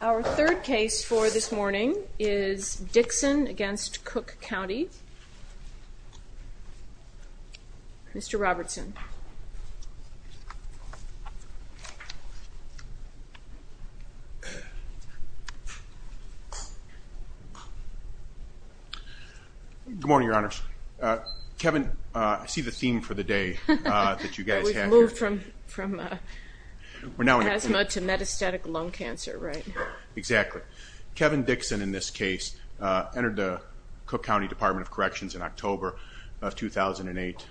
Our third case for this morning is Dixon v. Cook County. Mr. Robertson. Good morning, Your Honors. Kevin, I see the theme for the day that you guys have here. You moved from asthma to metastatic lung cancer, right? Exactly. Kevin Dixon, in this case, entered the Cook County Department of Corrections in October of 2008,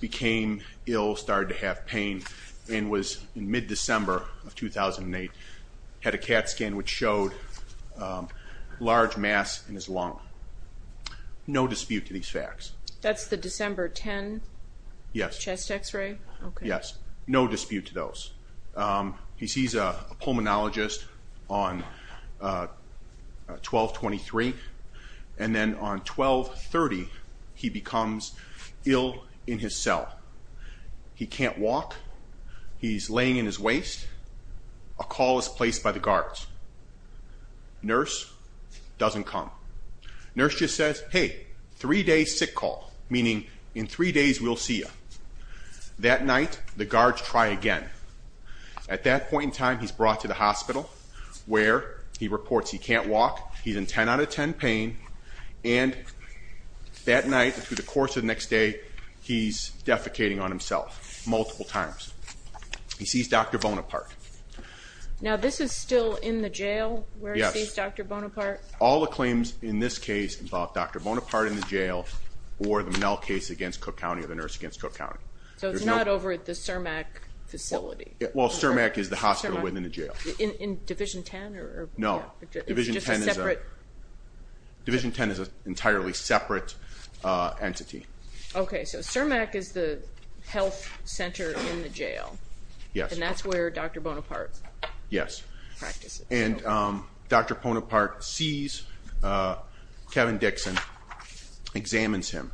became ill, started to have pain, and was, in mid-December of 2008, had a CAT scan which showed large mass in his lung. No dispute to these facts. That's the December 10 chest x-ray? Yes. No dispute to those. He sees a pulmonologist on 12-23, and then on 12-30, he becomes ill in his cell. He can't walk. He's laying in his waist. A call is placed by the guards. Nurse doesn't come. Nurse just says, hey, three-day sick call, meaning in three days we'll see you. That night, the guards try again. At that point in time, he's brought to the hospital where he reports he can't walk, he's in 10 out of 10 pain, and that night, through the course of the next day, he's defecating on himself multiple times. He sees Dr. Bonaparte. Now, this is still in the jail where he sees Dr. Bonaparte? All the claims in this case involve Dr. Bonaparte in the jail or the Mell case against Cook County or the nurse against Cook County. So it's not over at the CIRMAC facility? Well, CIRMAC is the hospital within the jail. In Division 10? No. Division 10 is an entirely separate entity. Okay, so CIRMAC is the health center in the jail? Yes. And that's where Dr. Bonaparte practices? Yes. And Dr. Bonaparte sees Kevin Dixon, examines him.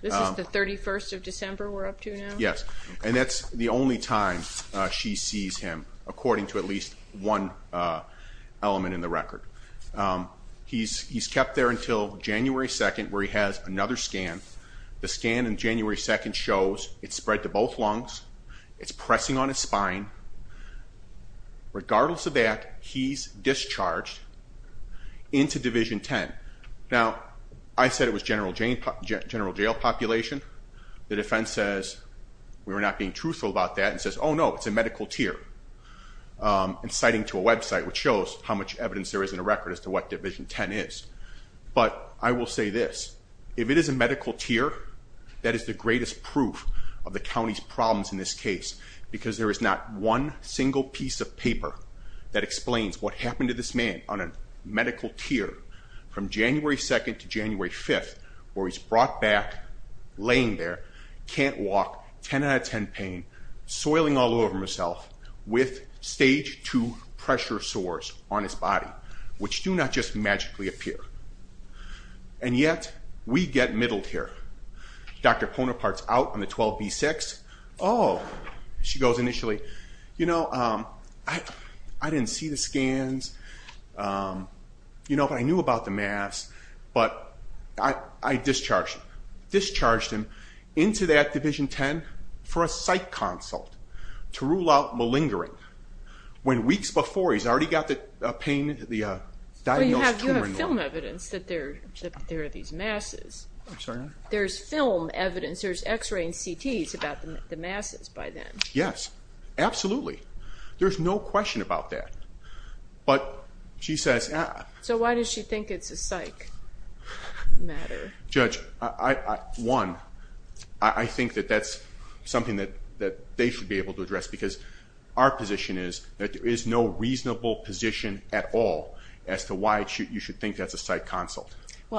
This is the 31st of December we're up to now? Yes. And that's the only time she sees him, according to at least one element in the record. He's kept there until January 2nd, where he has another scan. The scan on January 2nd shows it's spread to both lungs. It's pressing on his spine. Regardless of that, he's discharged into Division 10. Now, I said it was general jail population. The defense says we were not being truthful about that and says, oh, no, it's a medical tier. And citing to a website, which shows how much evidence there is in the record as to what Division 10 is. But I will say this. If it is a medical tier, that is the greatest proof of the county's problems in this case because there is not one single piece of paper that explains what happened to this man on a medical tier from January 2nd to January 5th, where he's brought back laying there, can't walk, 10 out of 10 pain, soiling all over himself with stage 2 pressure sores on his body, which do not just magically appear. And yet, we get middled here. Dr. Ponopart's out on the 12B6. Oh, she goes initially, you know, I didn't see the scans, you know, but I knew about the mass. But I discharged him. I discharged him into that Division 10 for a psych consult to rule out malingering when weeks before, he's already got the pain, the diagnosed tumor. But you have film evidence that there are these masses. I'm sorry? There's film evidence. There's x-ray and CTs about the masses by then. Yes, absolutely. There's no question about that. But she says... So why does she think it's a psych matter? Judge, one, I think that that's something that they should be able to address because our position is that there is no reasonable position at all as to why you should think that's a psych consult.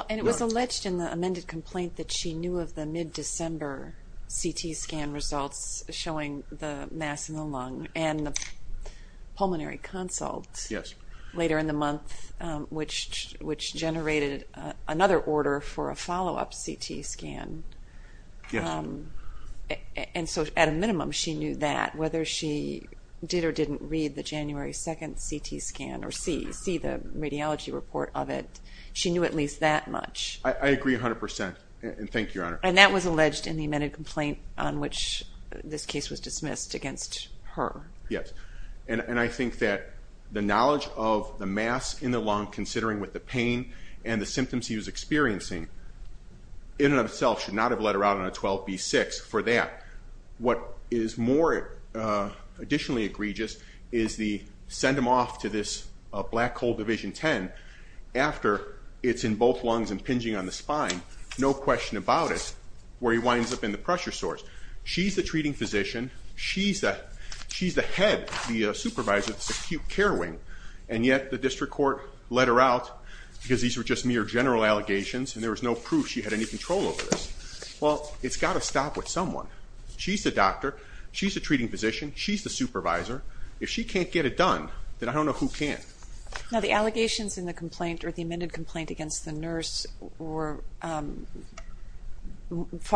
And it was alleged in the amended complaint that she knew of the mid-December CT scan results showing the mass in the lung and the pulmonary consult later in the month, which generated another order for a follow-up CT scan. Yes. And so at a minimum, she knew that. Whether she did or didn't read the January 2nd CT scan or see the radiology report of it, she knew at least that much. I agree 100%, and thank you, Your Honor. And that was alleged in the amended complaint on which this case was dismissed against her. Yes. And I think that the knowledge of the mass in the lung, considering with the pain and the symptoms he was experiencing, in and of itself should not have let her out on a 12B6 for that. What is more additionally egregious is the send him off to this black hole Division 10 after it's in both lungs impinging on the spine, no question about it, where he winds up in the pressure source. She's the treating physician. She's the head, the supervisor of this acute care wing, and yet the district court let her out because these were just mere general allegations and there was no proof she had any control over this. Well, it's got to stop with someone. She's the doctor. She's the treating physician. She's the supervisor. If she can't get it done, then I don't know who can. Now, the allegations in the complaint or the amended complaint against the nurse were far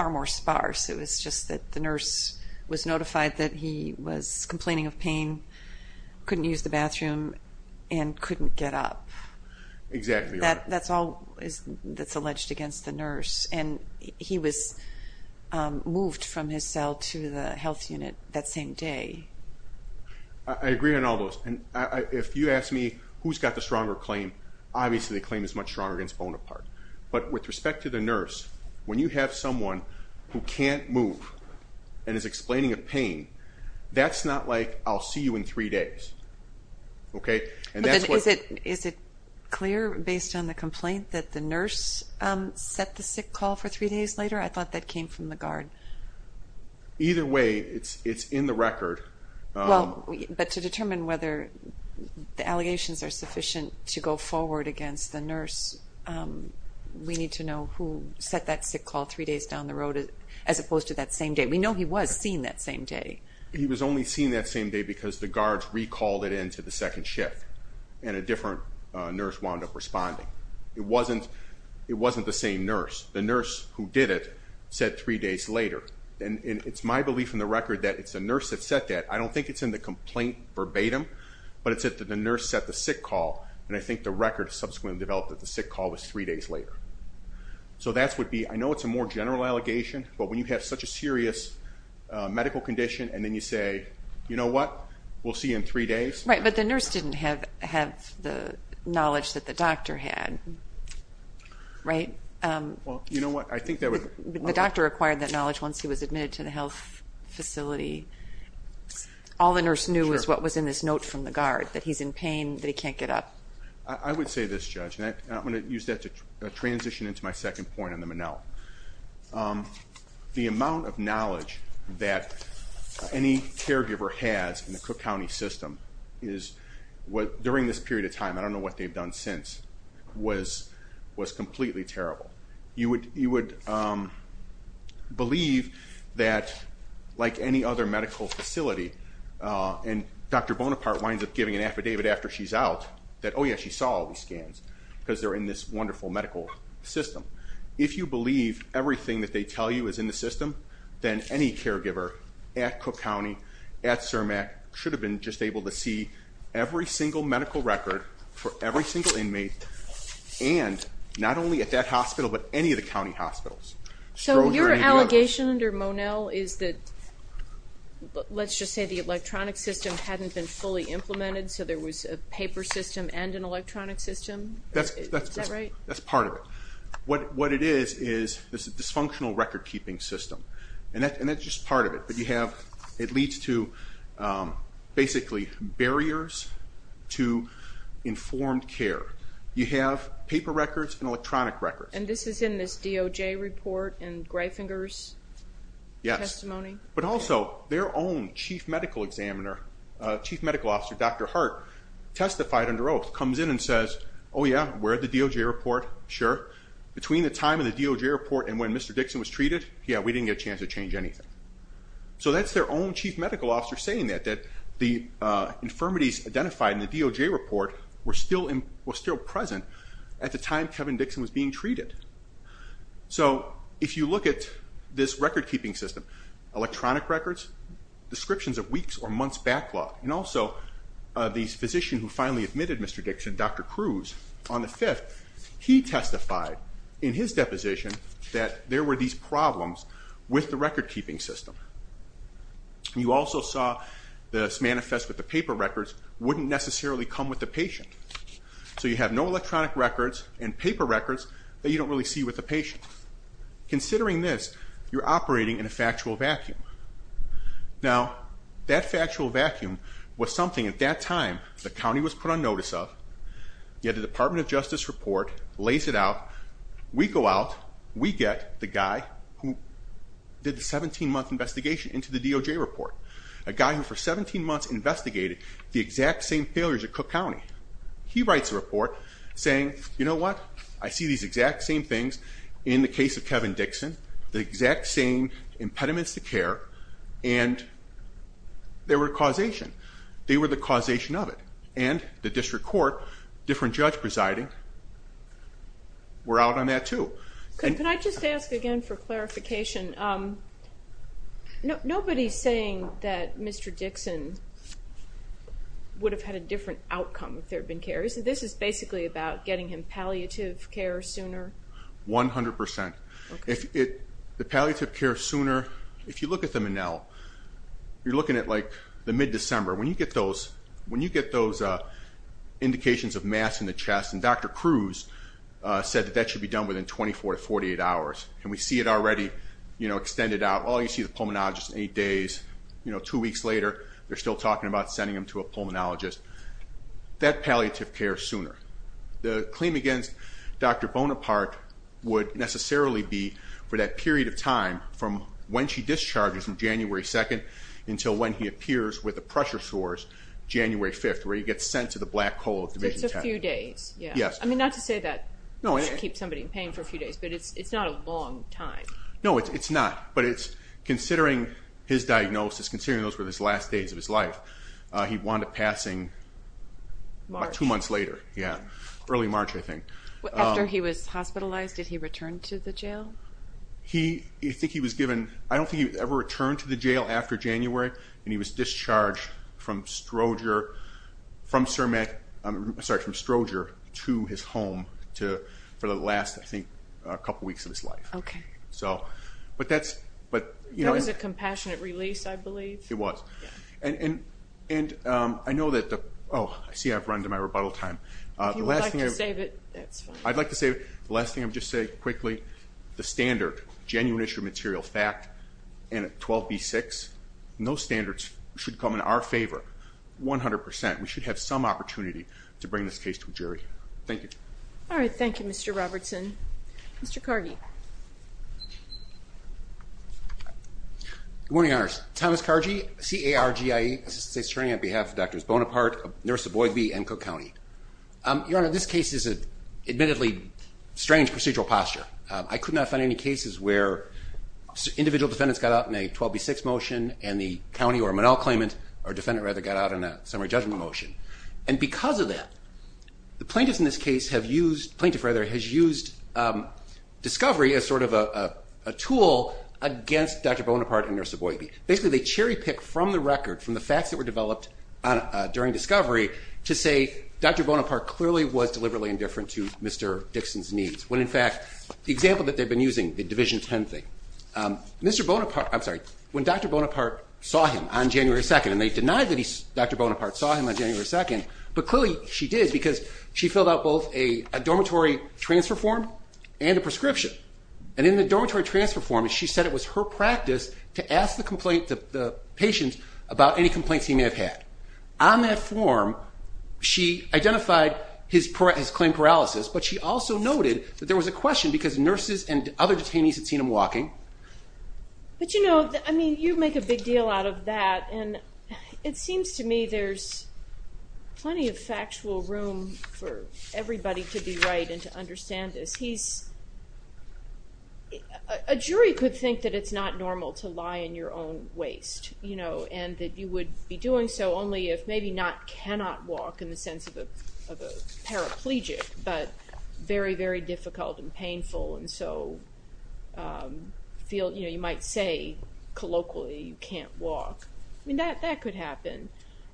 more sparse. It was just that the nurse was notified that he was complaining of pain, couldn't use the bathroom, and couldn't get up. Exactly. That's all that's alleged against the nurse, and he was moved from his cell to the health unit that same day. I agree on all those. If you ask me who's got the stronger claim, obviously the claim is much stronger against Bonaparte. But with respect to the nurse, when you have someone who can't move and is explaining of pain, that's not like I'll see you in three days. Is it clear based on the complaint that the nurse set the sick call for three days later? I thought that came from the guard. Either way, it's in the record. But to determine whether the allegations are sufficient to go forward against the nurse, we need to know who set that sick call three days down the road as opposed to that same day. We know he was seen that same day. He was only seen that same day because the guards recalled it into the second shift, and a different nurse wound up responding. It wasn't the same nurse. The nurse who did it said three days later. It's my belief in the record that it's the nurse that set that. I don't think it's in the complaint verbatim, but it's that the nurse set the sick call, and I think the record subsequently developed that the sick call was three days later. I know it's a more general allegation, but when you have such a serious medical condition and then you say, you know what, we'll see you in three days. Right, but the nurse didn't have the knowledge that the doctor had, right? The doctor acquired that knowledge once he was admitted to the health facility. All the nurse knew was what was in this note from the guard, that he's in pain, that he can't get up. I would say this, Judge, and I'm going to use that to transition into my second point on the Minnell. The amount of knowledge that any caregiver has in the Cook County system is, during this period of time, I don't know what they've done since, was completely terrible. You would believe that, like any other medical facility, and Dr. Bonaparte winds up giving an affidavit after she's out that, oh, yeah, she saw all these scans because they're in this wonderful medical system. If you believe everything that they tell you is in the system, then any caregiver at Cook County, at CIRMAC, should have been just able to see every single medical record for every single inmate, and not only at that hospital but any of the county hospitals. So your allegation under Monell is that, let's just say, the electronic system hadn't been fully implemented, so there was a paper system and an electronic system? That's part of it. What it is is this dysfunctional record-keeping system, and that's just part of it. It leads to, basically, barriers to informed care. You have paper records and electronic records. And this is in this DOJ report and Greifinger's testimony? Yes, but also their own chief medical examiner, chief medical officer, Dr. Hart, testified under oath, comes in and says, oh, yeah, we're at the DOJ report, sure. Between the time of the DOJ report and when Mr. Dixon was treated, yeah, we didn't get a chance to change anything. So that's their own chief medical officer saying that, that the infirmities identified in the DOJ report were still present at the time Kevin Dixon was being treated. So if you look at this record-keeping system, electronic records, descriptions of weeks or months' backlog, and also the physician who finally admitted Mr. Dixon, Dr. Cruz, on the 5th, that he testified in his deposition that there were these problems with the record-keeping system. You also saw this manifest with the paper records wouldn't necessarily come with the patient. So you have no electronic records and paper records that you don't really see with the patient. Considering this, you're operating in a factual vacuum. Now, that factual vacuum was something, at that time, the county was put on notice of, yet the Department of Justice report lays it out. We go out, we get the guy who did the 17-month investigation into the DOJ report, a guy who for 17 months investigated the exact same failures at Cook County. He writes a report saying, you know what? I see these exact same things in the case of Kevin Dixon, the exact same impediments to care, and there were causation. They were the causation of it. And the district court, different judge presiding, were out on that too. Can I just ask again for clarification? Nobody's saying that Mr. Dixon would have had a different outcome if there had been care. This is basically about getting him palliative care sooner? 100%. The palliative care sooner, if you look at the Menel, you're looking at, like, the mid-December. When you get those indications of mass in the chest, and Dr. Cruz said that that should be done within 24 to 48 hours, and we see it already extended out. Oh, you see the pulmonologist in eight days. Two weeks later, they're still talking about sending him to a pulmonologist. That palliative care sooner. The claim against Dr. Bonaparte would necessarily be for that period of time, from when she discharges him, January 2nd, until when he appears with a pressure source, January 5th, where he gets sent to the black hole of Division 10. So it's a few days. Yes. I mean, not to say that you should keep somebody in pain for a few days, but it's not a long time. No, it's not. But considering his diagnosis, considering those were the last days of his life, he wound up passing about two months later, early March, I think. After he was hospitalized, did he return to the jail? I don't think he ever returned to the jail after January, and he was discharged from Stroger to his home for the last, I think, couple weeks of his life. Okay. That was a compassionate release, I believe. It was. And I know that the – oh, I see I've run into my rebuttal time. If you would like to save it, that's fine. I'd like to save it. The last thing I'll just say quickly, the standard, genuine issue of material fact, and 12B6, those standards should come in our favor 100%. We should have some opportunity to bring this case to a jury. Thank you. All right. Thank you, Mr. Robertson. Mr. Cargi. Good morning, Your Honors. Thomas Cargi, C-A-R-G-I-E, Assistant State Attorney on behalf of Drs. Bonaparte, nurse of Boyd v. Encoe County. Your Honor, this case is an admittedly strange procedural posture. I could not find any cases where individual defendants got out in a 12B6 motion and the county or Monell claimant, or defendant rather, got out in a summary judgment motion. And because of that, the plaintiffs in this case have used – plaintiff, rather, has used discovery as sort of a tool against Dr. Bonaparte and nurse of Boyd. Basically, they cherry-pick from the record, from the facts that were developed during discovery, to say Dr. Bonaparte clearly was deliberately indifferent to Mr. Dixon's needs. When, in fact, the example that they've been using, the Division 10 thing, Mr. Bonaparte – I'm sorry, when Dr. Bonaparte saw him on January 2nd, and they denied that Dr. Bonaparte saw him on January 2nd, but clearly she did because she filled out both a dormitory transfer form and a prescription. And in the dormitory transfer form, she said it was her practice to ask the complaint, the patient, about any complaints he may have had. On that form, she identified his claim paralysis, but she also noted that there was a question because nurses and other detainees had seen him walking. But, you know, I mean, you make a big deal out of that, and it seems to me there's plenty of factual room for everybody to be right and to understand this. He's – a jury could think that it's not normal to lie in your own waste, you know, and that you would be doing so only if maybe not cannot walk in the sense of a paraplegic, but very, very difficult and painful and so feel – you know, you might say colloquially you can't walk. I mean, that could happen.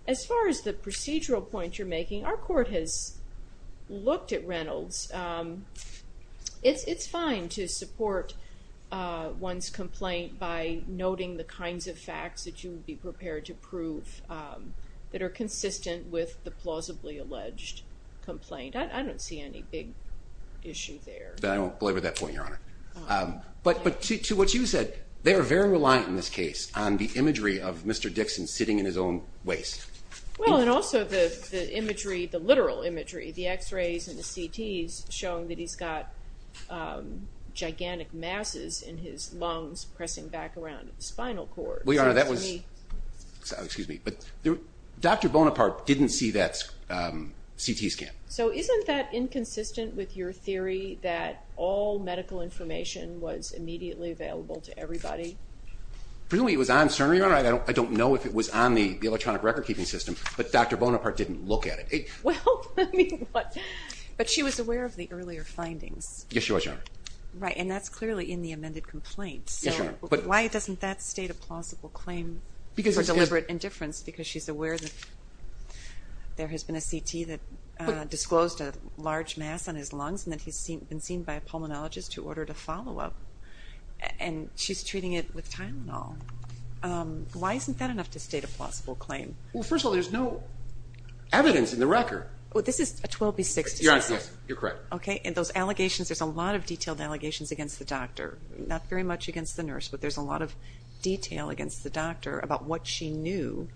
As far as the procedural point you're making, our court has looked at Reynolds. It's fine to support one's complaint by noting the kinds of facts that you would be prepared to prove that are consistent with the plausibly alleged complaint. I don't see any big issue there. I don't believe with that point, Your Honor. But to what you said, they are very reliant in this case on the imagery of Mr. Dixon sitting in his own waste. Well, and also the imagery, the literal imagery, the X-rays and the CTs showing that he's got gigantic masses in his lungs pressing back around the spinal cord. Well, Your Honor, that was – excuse me, but Dr. Bonaparte didn't see that CT scan. So isn't that inconsistent with your theory that all medical information was immediately available to everybody? Presumably it was on CERN, Your Honor. I don't know if it was on the electronic record-keeping system, but Dr. Bonaparte didn't look at it. Well, I mean, but she was aware of the earlier findings. Yes, she was, Your Honor. Right, and that's clearly in the amended complaint. Yes, Your Honor. Why doesn't that state a plausible claim for deliberate indifference? Because she's aware that there has been a CT that disclosed a large mass on his lungs and that he's been seen by a pulmonologist who ordered a follow-up. And she's treating it with Tylenol. Why isn't that enough to state a plausible claim? Well, first of all, there's no evidence in the record. Well, this is a 12B6. Yes, yes, you're correct. Okay, and those allegations, there's a lot of detailed allegations against the doctor, not very much against the nurse, but there's a lot of detail against the doctor about what she knew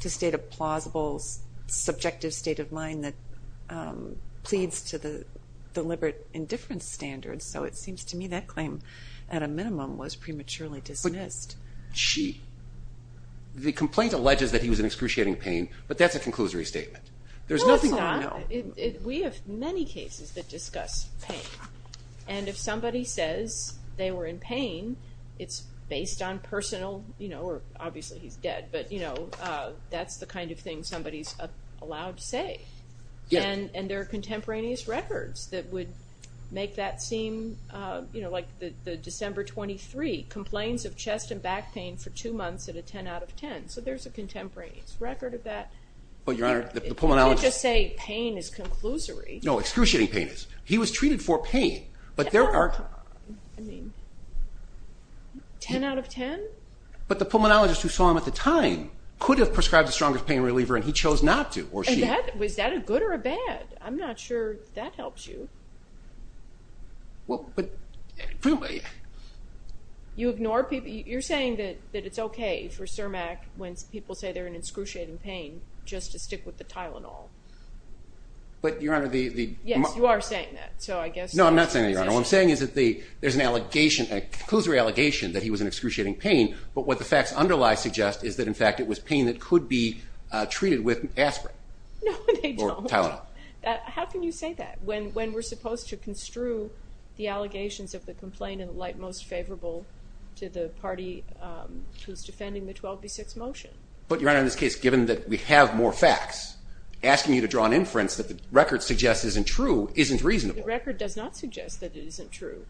to state a plausible, subjective state of mind that pleads to the deliberate indifference standard. So it seems to me that claim, at a minimum, was prematurely dismissed. But she, the complaint alleges that he was in excruciating pain, but that's a conclusory statement. There's nothing I know. Well, it's not. We have many cases that discuss pain. And if somebody says they were in pain, it's based on personal, you know, or obviously he's dead, but, you know, that's the kind of thing somebody's allowed to say. And there are contemporaneous records that would make that seem, you know, like the December 23 complaints of chest and back pain for two months at a 10 out of 10. So there's a contemporaneous record of that. You can't just say pain is conclusory. No, excruciating pain is. He was treated for pain, but there are 10 out of 10? But the pulmonologist who saw him at the time could have prescribed the strongest pain reliever, and he chose not to. Was that a good or a bad? I'm not sure that helps you. Well, but. You ignore people. You're saying that it's okay for CIRMAC when people say they're in excruciating pain just to stick with the Tylenol. But, Your Honor, the. Yes, you are saying that. So I guess. No, I'm not saying that, Your Honor. What I'm saying is that there's an allegation, a conclusory allegation that he was in excruciating pain, but what the facts underlie suggest is that, in fact, it was pain that could be treated with aspirin. No, they don't. Or Tylenol. How can you say that when we're supposed to construe the allegations of the complaint in the light most favorable to the party who's defending the 12B6 motion? But, Your Honor, in this case, given that we have more facts, asking you to draw an inference that the record suggests isn't true isn't reasonable. The record does not suggest that it isn't true.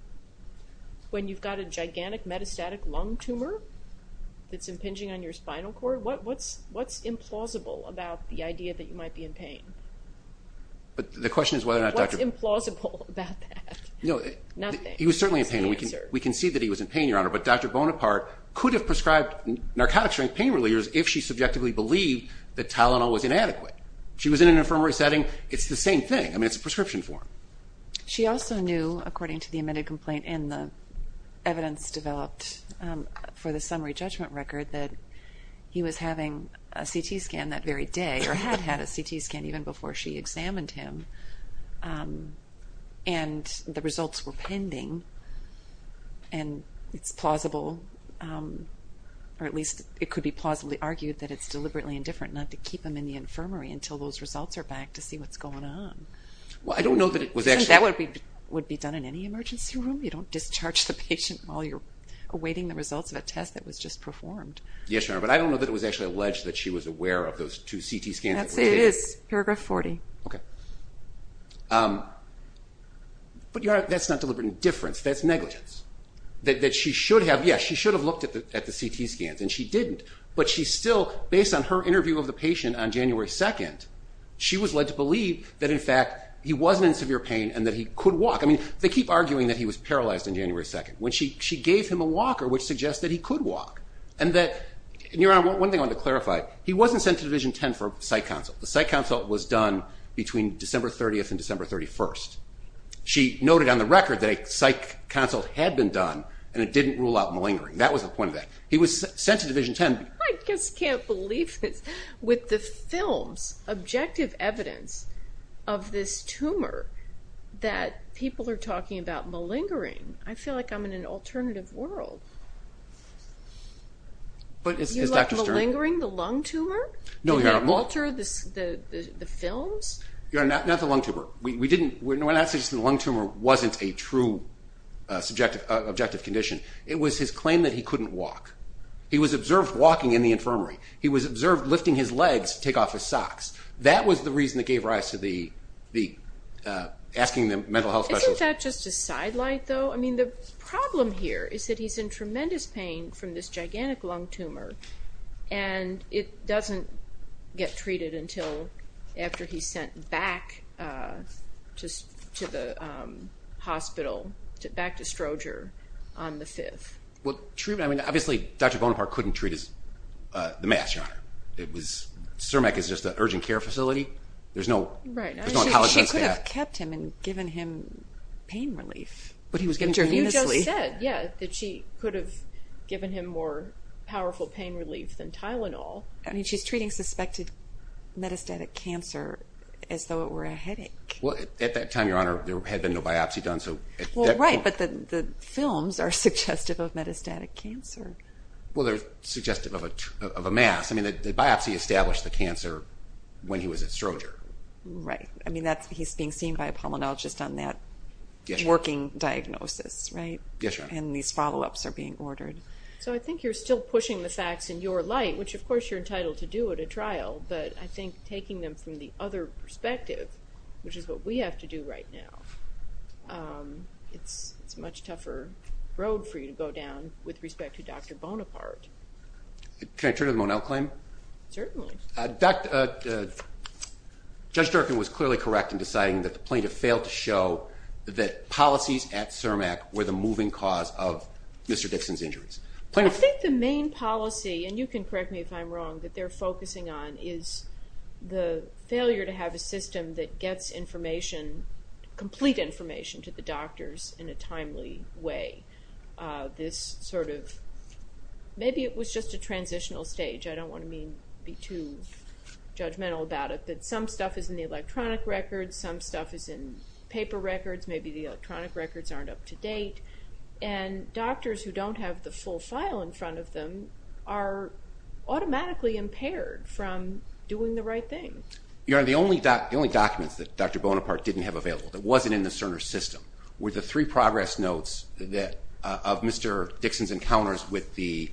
When you've got a gigantic metastatic lung tumor that's impinging on your spinal cord, what's implausible about the idea that you might be in pain? The question is whether or not Dr. What's implausible about that? Nothing. He was certainly in pain, and we can see that he was in pain, Your Honor, but Dr. Bonaparte could have prescribed narcotic-strength pain relievers if she subjectively believed that Tylenol was inadequate. If she was in an infirmary setting, it's the same thing. I mean, it's a prescription for him. She also knew, according to the amended complaint and the evidence developed for the summary judgment record, that he was having a CT scan that very day, or had had a CT scan even before she examined him, and the results were pending, and it's plausible, or at least it could be plausibly argued that it's deliberately indifferent not to keep him in the infirmary until those results are back to see what's going on. Well, I don't know that it was actually... That would be done in any emergency room. You don't discharge the patient while you're awaiting the results of a test that was just performed. Yes, Your Honor, but I don't know that it was actually alleged that she was aware of those two CT scans that were taken. It is. Paragraph 40. Okay. But, Your Honor, that's not deliberate indifference. That's negligence, that she should have. Yes, she should have looked at the CT scans, and she didn't, but she still, based on her interview of the patient on January 2nd, she was led to believe that, in fact, he wasn't in severe pain and that he could walk. I mean, they keep arguing that he was paralyzed on January 2nd. She gave him a walker, which suggests that he could walk, and that, Your Honor, one thing I want to clarify, he wasn't sent to Division 10 for a psych consult. The psych consult was done between December 30th and December 31st. She noted on the record that a psych consult had been done, and it didn't rule out malingering. That was the point of that. He was sent to Division 10... I just can't believe this. With the film's objective evidence of this tumor that people are talking about malingering, I feel like I'm in an alternative world. But, as Dr. Stern... Do you like malingering the lung tumor? No, Your Honor... Do you like Malter, the films? Your Honor, not the lung tumor. We didn't... We're not suggesting the lung tumor wasn't a true subjective, objective condition. It was his claim that he couldn't walk. He was observed walking in the infirmary. He was observed lifting his legs to take off his socks. That was the reason that gave rise to asking the mental health specialist... Isn't that just a sidelight, though? I mean, the problem here is that he's in tremendous pain from this gigantic lung tumor, and it doesn't get treated until after he's sent back to the hospital, back to Stroger, on the 5th. Well, treatment... I mean, obviously, Dr. Bonaparte couldn't treat the mass, Your Honor. It was... CIRMEC is just an urgent care facility. There's no... Right. She could have kept him and given him pain relief. But he was getting... You just said, yeah, that she could have given him more powerful pain relief than Tylenol. I mean, she's treating suspected metastatic cancer as though it were a headache. Well, at that time, Your Honor, there had been no biopsy done, so... Right, but the films are suggestive of metastatic cancer. Well, they're suggestive of a mass. I mean, the biopsy established the cancer when he was at Stroger. Right. I mean, he's being seen by a pulmonologist on that working diagnosis, right? Yes, Your Honor. And these follow-ups are being ordered. So I think you're still pushing the facts in your light, which, of course, you're entitled to do at a trial, but I think taking them from the other perspective, which is what we have to do right now, it's a much tougher road for you to go down with respect to Dr. Bonaparte. Can I turn to the Monell claim? Certainly. Judge Durkin was clearly correct in deciding that the plaintiff failed to show that policies at CERMAC were the moving cause of Mr. Dixon's injuries. I think the main policy, and you can correct me if I'm wrong, that they're focusing on is the failure to have a system that gets information, complete information to the doctors in a timely way. This sort of maybe it was just a transitional stage. I don't want to be too judgmental about it, but some stuff is in the electronic records, some stuff is in paper records, maybe the electronic records aren't up to date, and doctors who don't have the full file in front of them are automatically impaired from doing the right thing. The only documents that Dr. Bonaparte didn't have available, that wasn't in the Cerner system, were the three progress notes of Mr. Dixon's encounters with two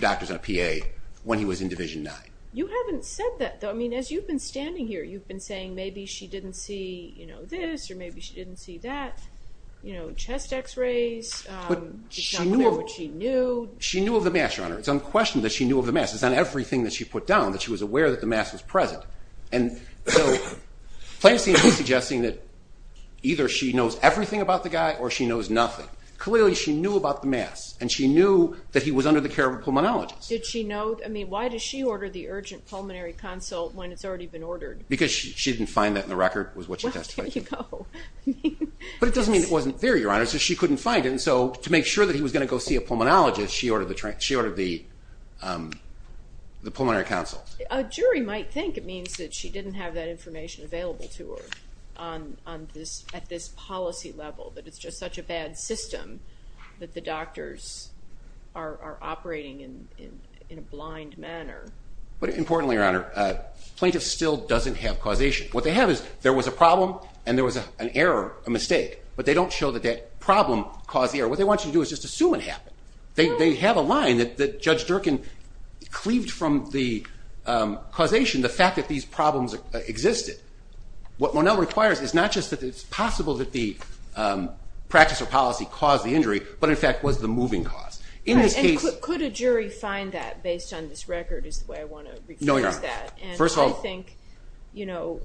doctors and a PA when he was in Division 9. You haven't said that, though. As you've been standing here, you've been saying maybe she didn't see this or maybe she didn't see that, chest X-rays. It's not clear what she knew. She knew of the mass, Your Honor. It's unquestionable that she knew of the mass. It's on everything that she put down that she was aware that the mass was present. And so Plancy is suggesting that either she knows everything about the guy or she knows nothing. Clearly she knew about the mass, and she knew that he was under the care of a pulmonologist. Did she know? I mean, why does she order the urgent pulmonary consult when it's already been ordered? Because she didn't find that in the record was what she testified to. Well, there you go. But it doesn't mean it wasn't there, Your Honor. It's just she couldn't find it. And so to make sure that he was going to go see a pulmonologist, she ordered the pulmonary consult. A jury might think it means that she didn't have that information available to her at this policy level, that it's just such a bad system, that the doctors are operating in a blind manner. But importantly, Your Honor, plaintiff still doesn't have causation. But they don't show that that problem caused the error. What they want you to do is just assume it happened. They have a line that Judge Durkin cleaved from the causation, the fact that these problems existed. What Monell requires is not just that it's possible that the practice or policy caused the injury, but in fact was the moving cause. And could a jury find that based on this record is the way I want to refuse that. No, Your Honor. First of all. I think, you know,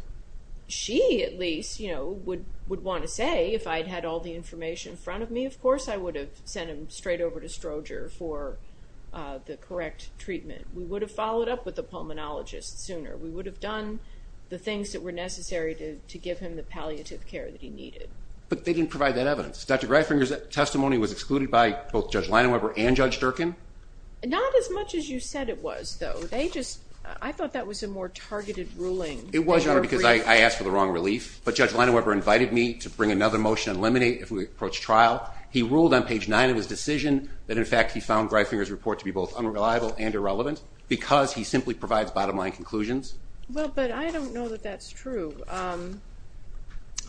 she at least, you know, would want to say, if I'd had all the information in front of me, of course, I would have sent him straight over to Stroger for the correct treatment. We would have followed up with the pulmonologist sooner. We would have done the things that were necessary to give him the palliative care that he needed. But they didn't provide that evidence. Dr. Greifinger's testimony was excluded by both Judge Leinweber and Judge Durkin? Not as much as you said it was, though. They just, I thought that was a more targeted ruling. It was, Your Honor, because I asked for the wrong relief. But Judge Leinweber invited me to bring another motion to eliminate if we approach trial. He ruled on page 9 of his decision that, in fact, he found Greifinger's report to be both unreliable and irrelevant because he simply provides bottom-line conclusions. Well, but I don't know that that's true.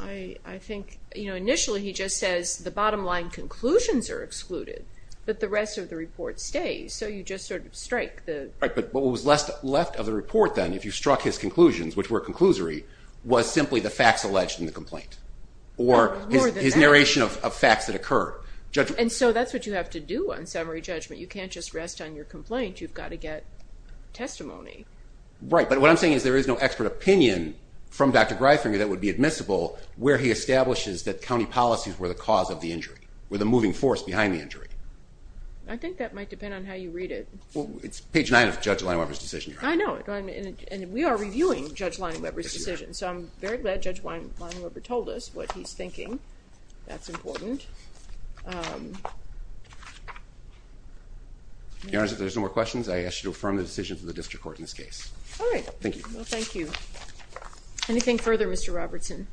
I think, you know, initially he just says the bottom-line conclusions are excluded, but the rest of the report stays. So you just sort of strike the... Right, but what was left of the report then, if you struck his conclusions, which were conclusory, was simply the facts alleged in the complaint or his narration of facts that occurred. And so that's what you have to do on summary judgment. You can't just rest on your complaint. You've got to get testimony. Right, but what I'm saying is there is no expert opinion from Dr. Greifinger that would be admissible where he establishes that county policies were the cause of the injury, were the moving force behind the injury. I think that might depend on how you read it. Well, it's page 9 of Judge Leinweber's decision. I know, and we are reviewing Judge Leinweber's decision, so I'm very glad Judge Leinweber told us what he's thinking. That's important. Your Honor, if there's no more questions, I ask you to affirm the decision to the district court in this case. All right. Thank you. Well, thank you. Anything further, Mr. Robertson?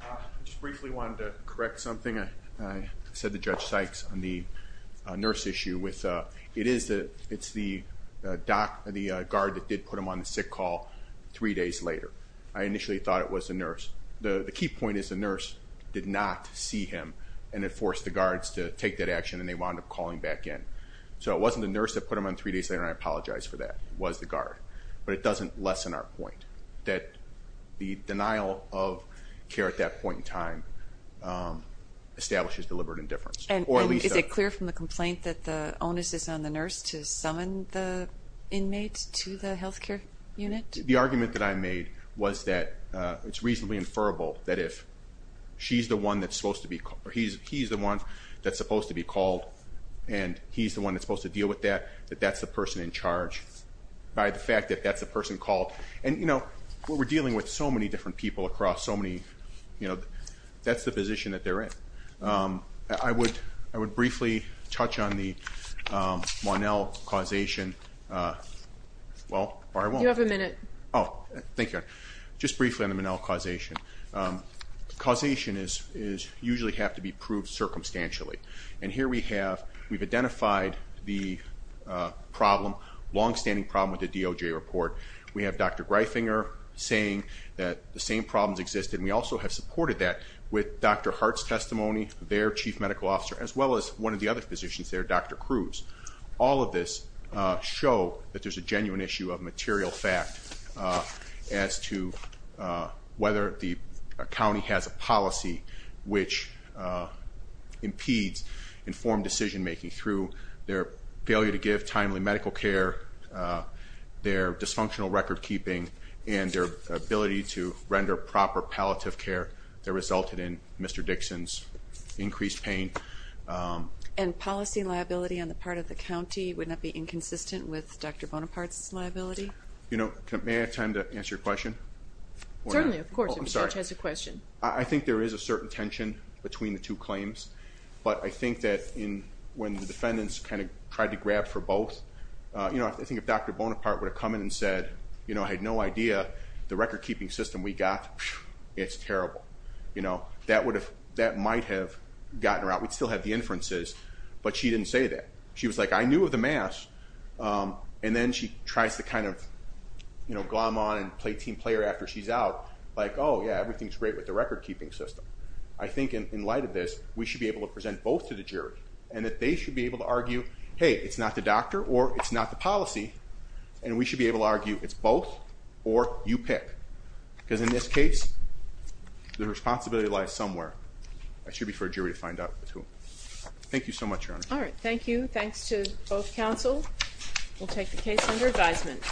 I just briefly wanted to correct something I said to Judge Sykes on the nurse issue. It is the guard that did put him on the sick call three days later. I initially thought it was the nurse. The key point is the nurse did not see him and had forced the guards to take that action, and they wound up calling back in. So it wasn't the nurse that put him on three days later, and I apologize for that. It was the guard. But it doesn't lessen our point that the denial of care at that point in time establishes deliberate indifference. Is it clear from the complaint that the onus is on the nurse to summon the inmate to the health care unit? The argument that I made was that it's reasonably inferrable that if he's the one that's supposed to be called and he's the one that's supposed to deal with that, that that's the person in charge, by the fact that that's the person called. And, you know, we're dealing with so many different people across so many, you know, that's the position that they're in. I would briefly touch on the Monell causation. Well, or I won't. You have a minute. Oh, thank you. Just briefly on the Monell causation. Causation usually have to be proved circumstantially. And here we have, we've identified the problem, longstanding problem with the DOJ report. We have Dr. Greifinger saying that the same problems exist, and we also have supported that with Dr. Hart's testimony, their chief medical officer, as well as one of the other physicians there, Dr. Cruz. All of this show that there's a genuine issue of material fact as to whether the county has a policy which impedes informed decision-making through their failure to give timely medical care, their dysfunctional record-keeping, and their ability to render proper palliative care that resulted in Mr. Dixon's increased pain. And policy liability on the part of the county would not be inconsistent with Dr. Bonaparte's liability? You know, may I have time to answer your question? Certainly, of course. I'm sorry. There's a certain tension between the two claims, but I think that when the defendants kind of tried to grab for both, you know, I think if Dr. Bonaparte would have come in and said, you know, I had no idea the record-keeping system we got, it's terrible. You know, that might have gotten her out. We'd still have the inferences, but she didn't say that. She was like, I knew of the math. And then she tries to kind of, you know, glom on and play team player after she's out, like, oh, yeah, everything's great with the record-keeping system. I think in light of this, we should be able to present both to the jury and that they should be able to argue, hey, it's not the doctor or it's not the policy, and we should be able to argue it's both or you pick. Because in this case, the responsibility lies somewhere. It should be for a jury to find out who. Thank you so much, Your Honor. All right, thank you. Thanks to both counsel. We'll take the case under advisement.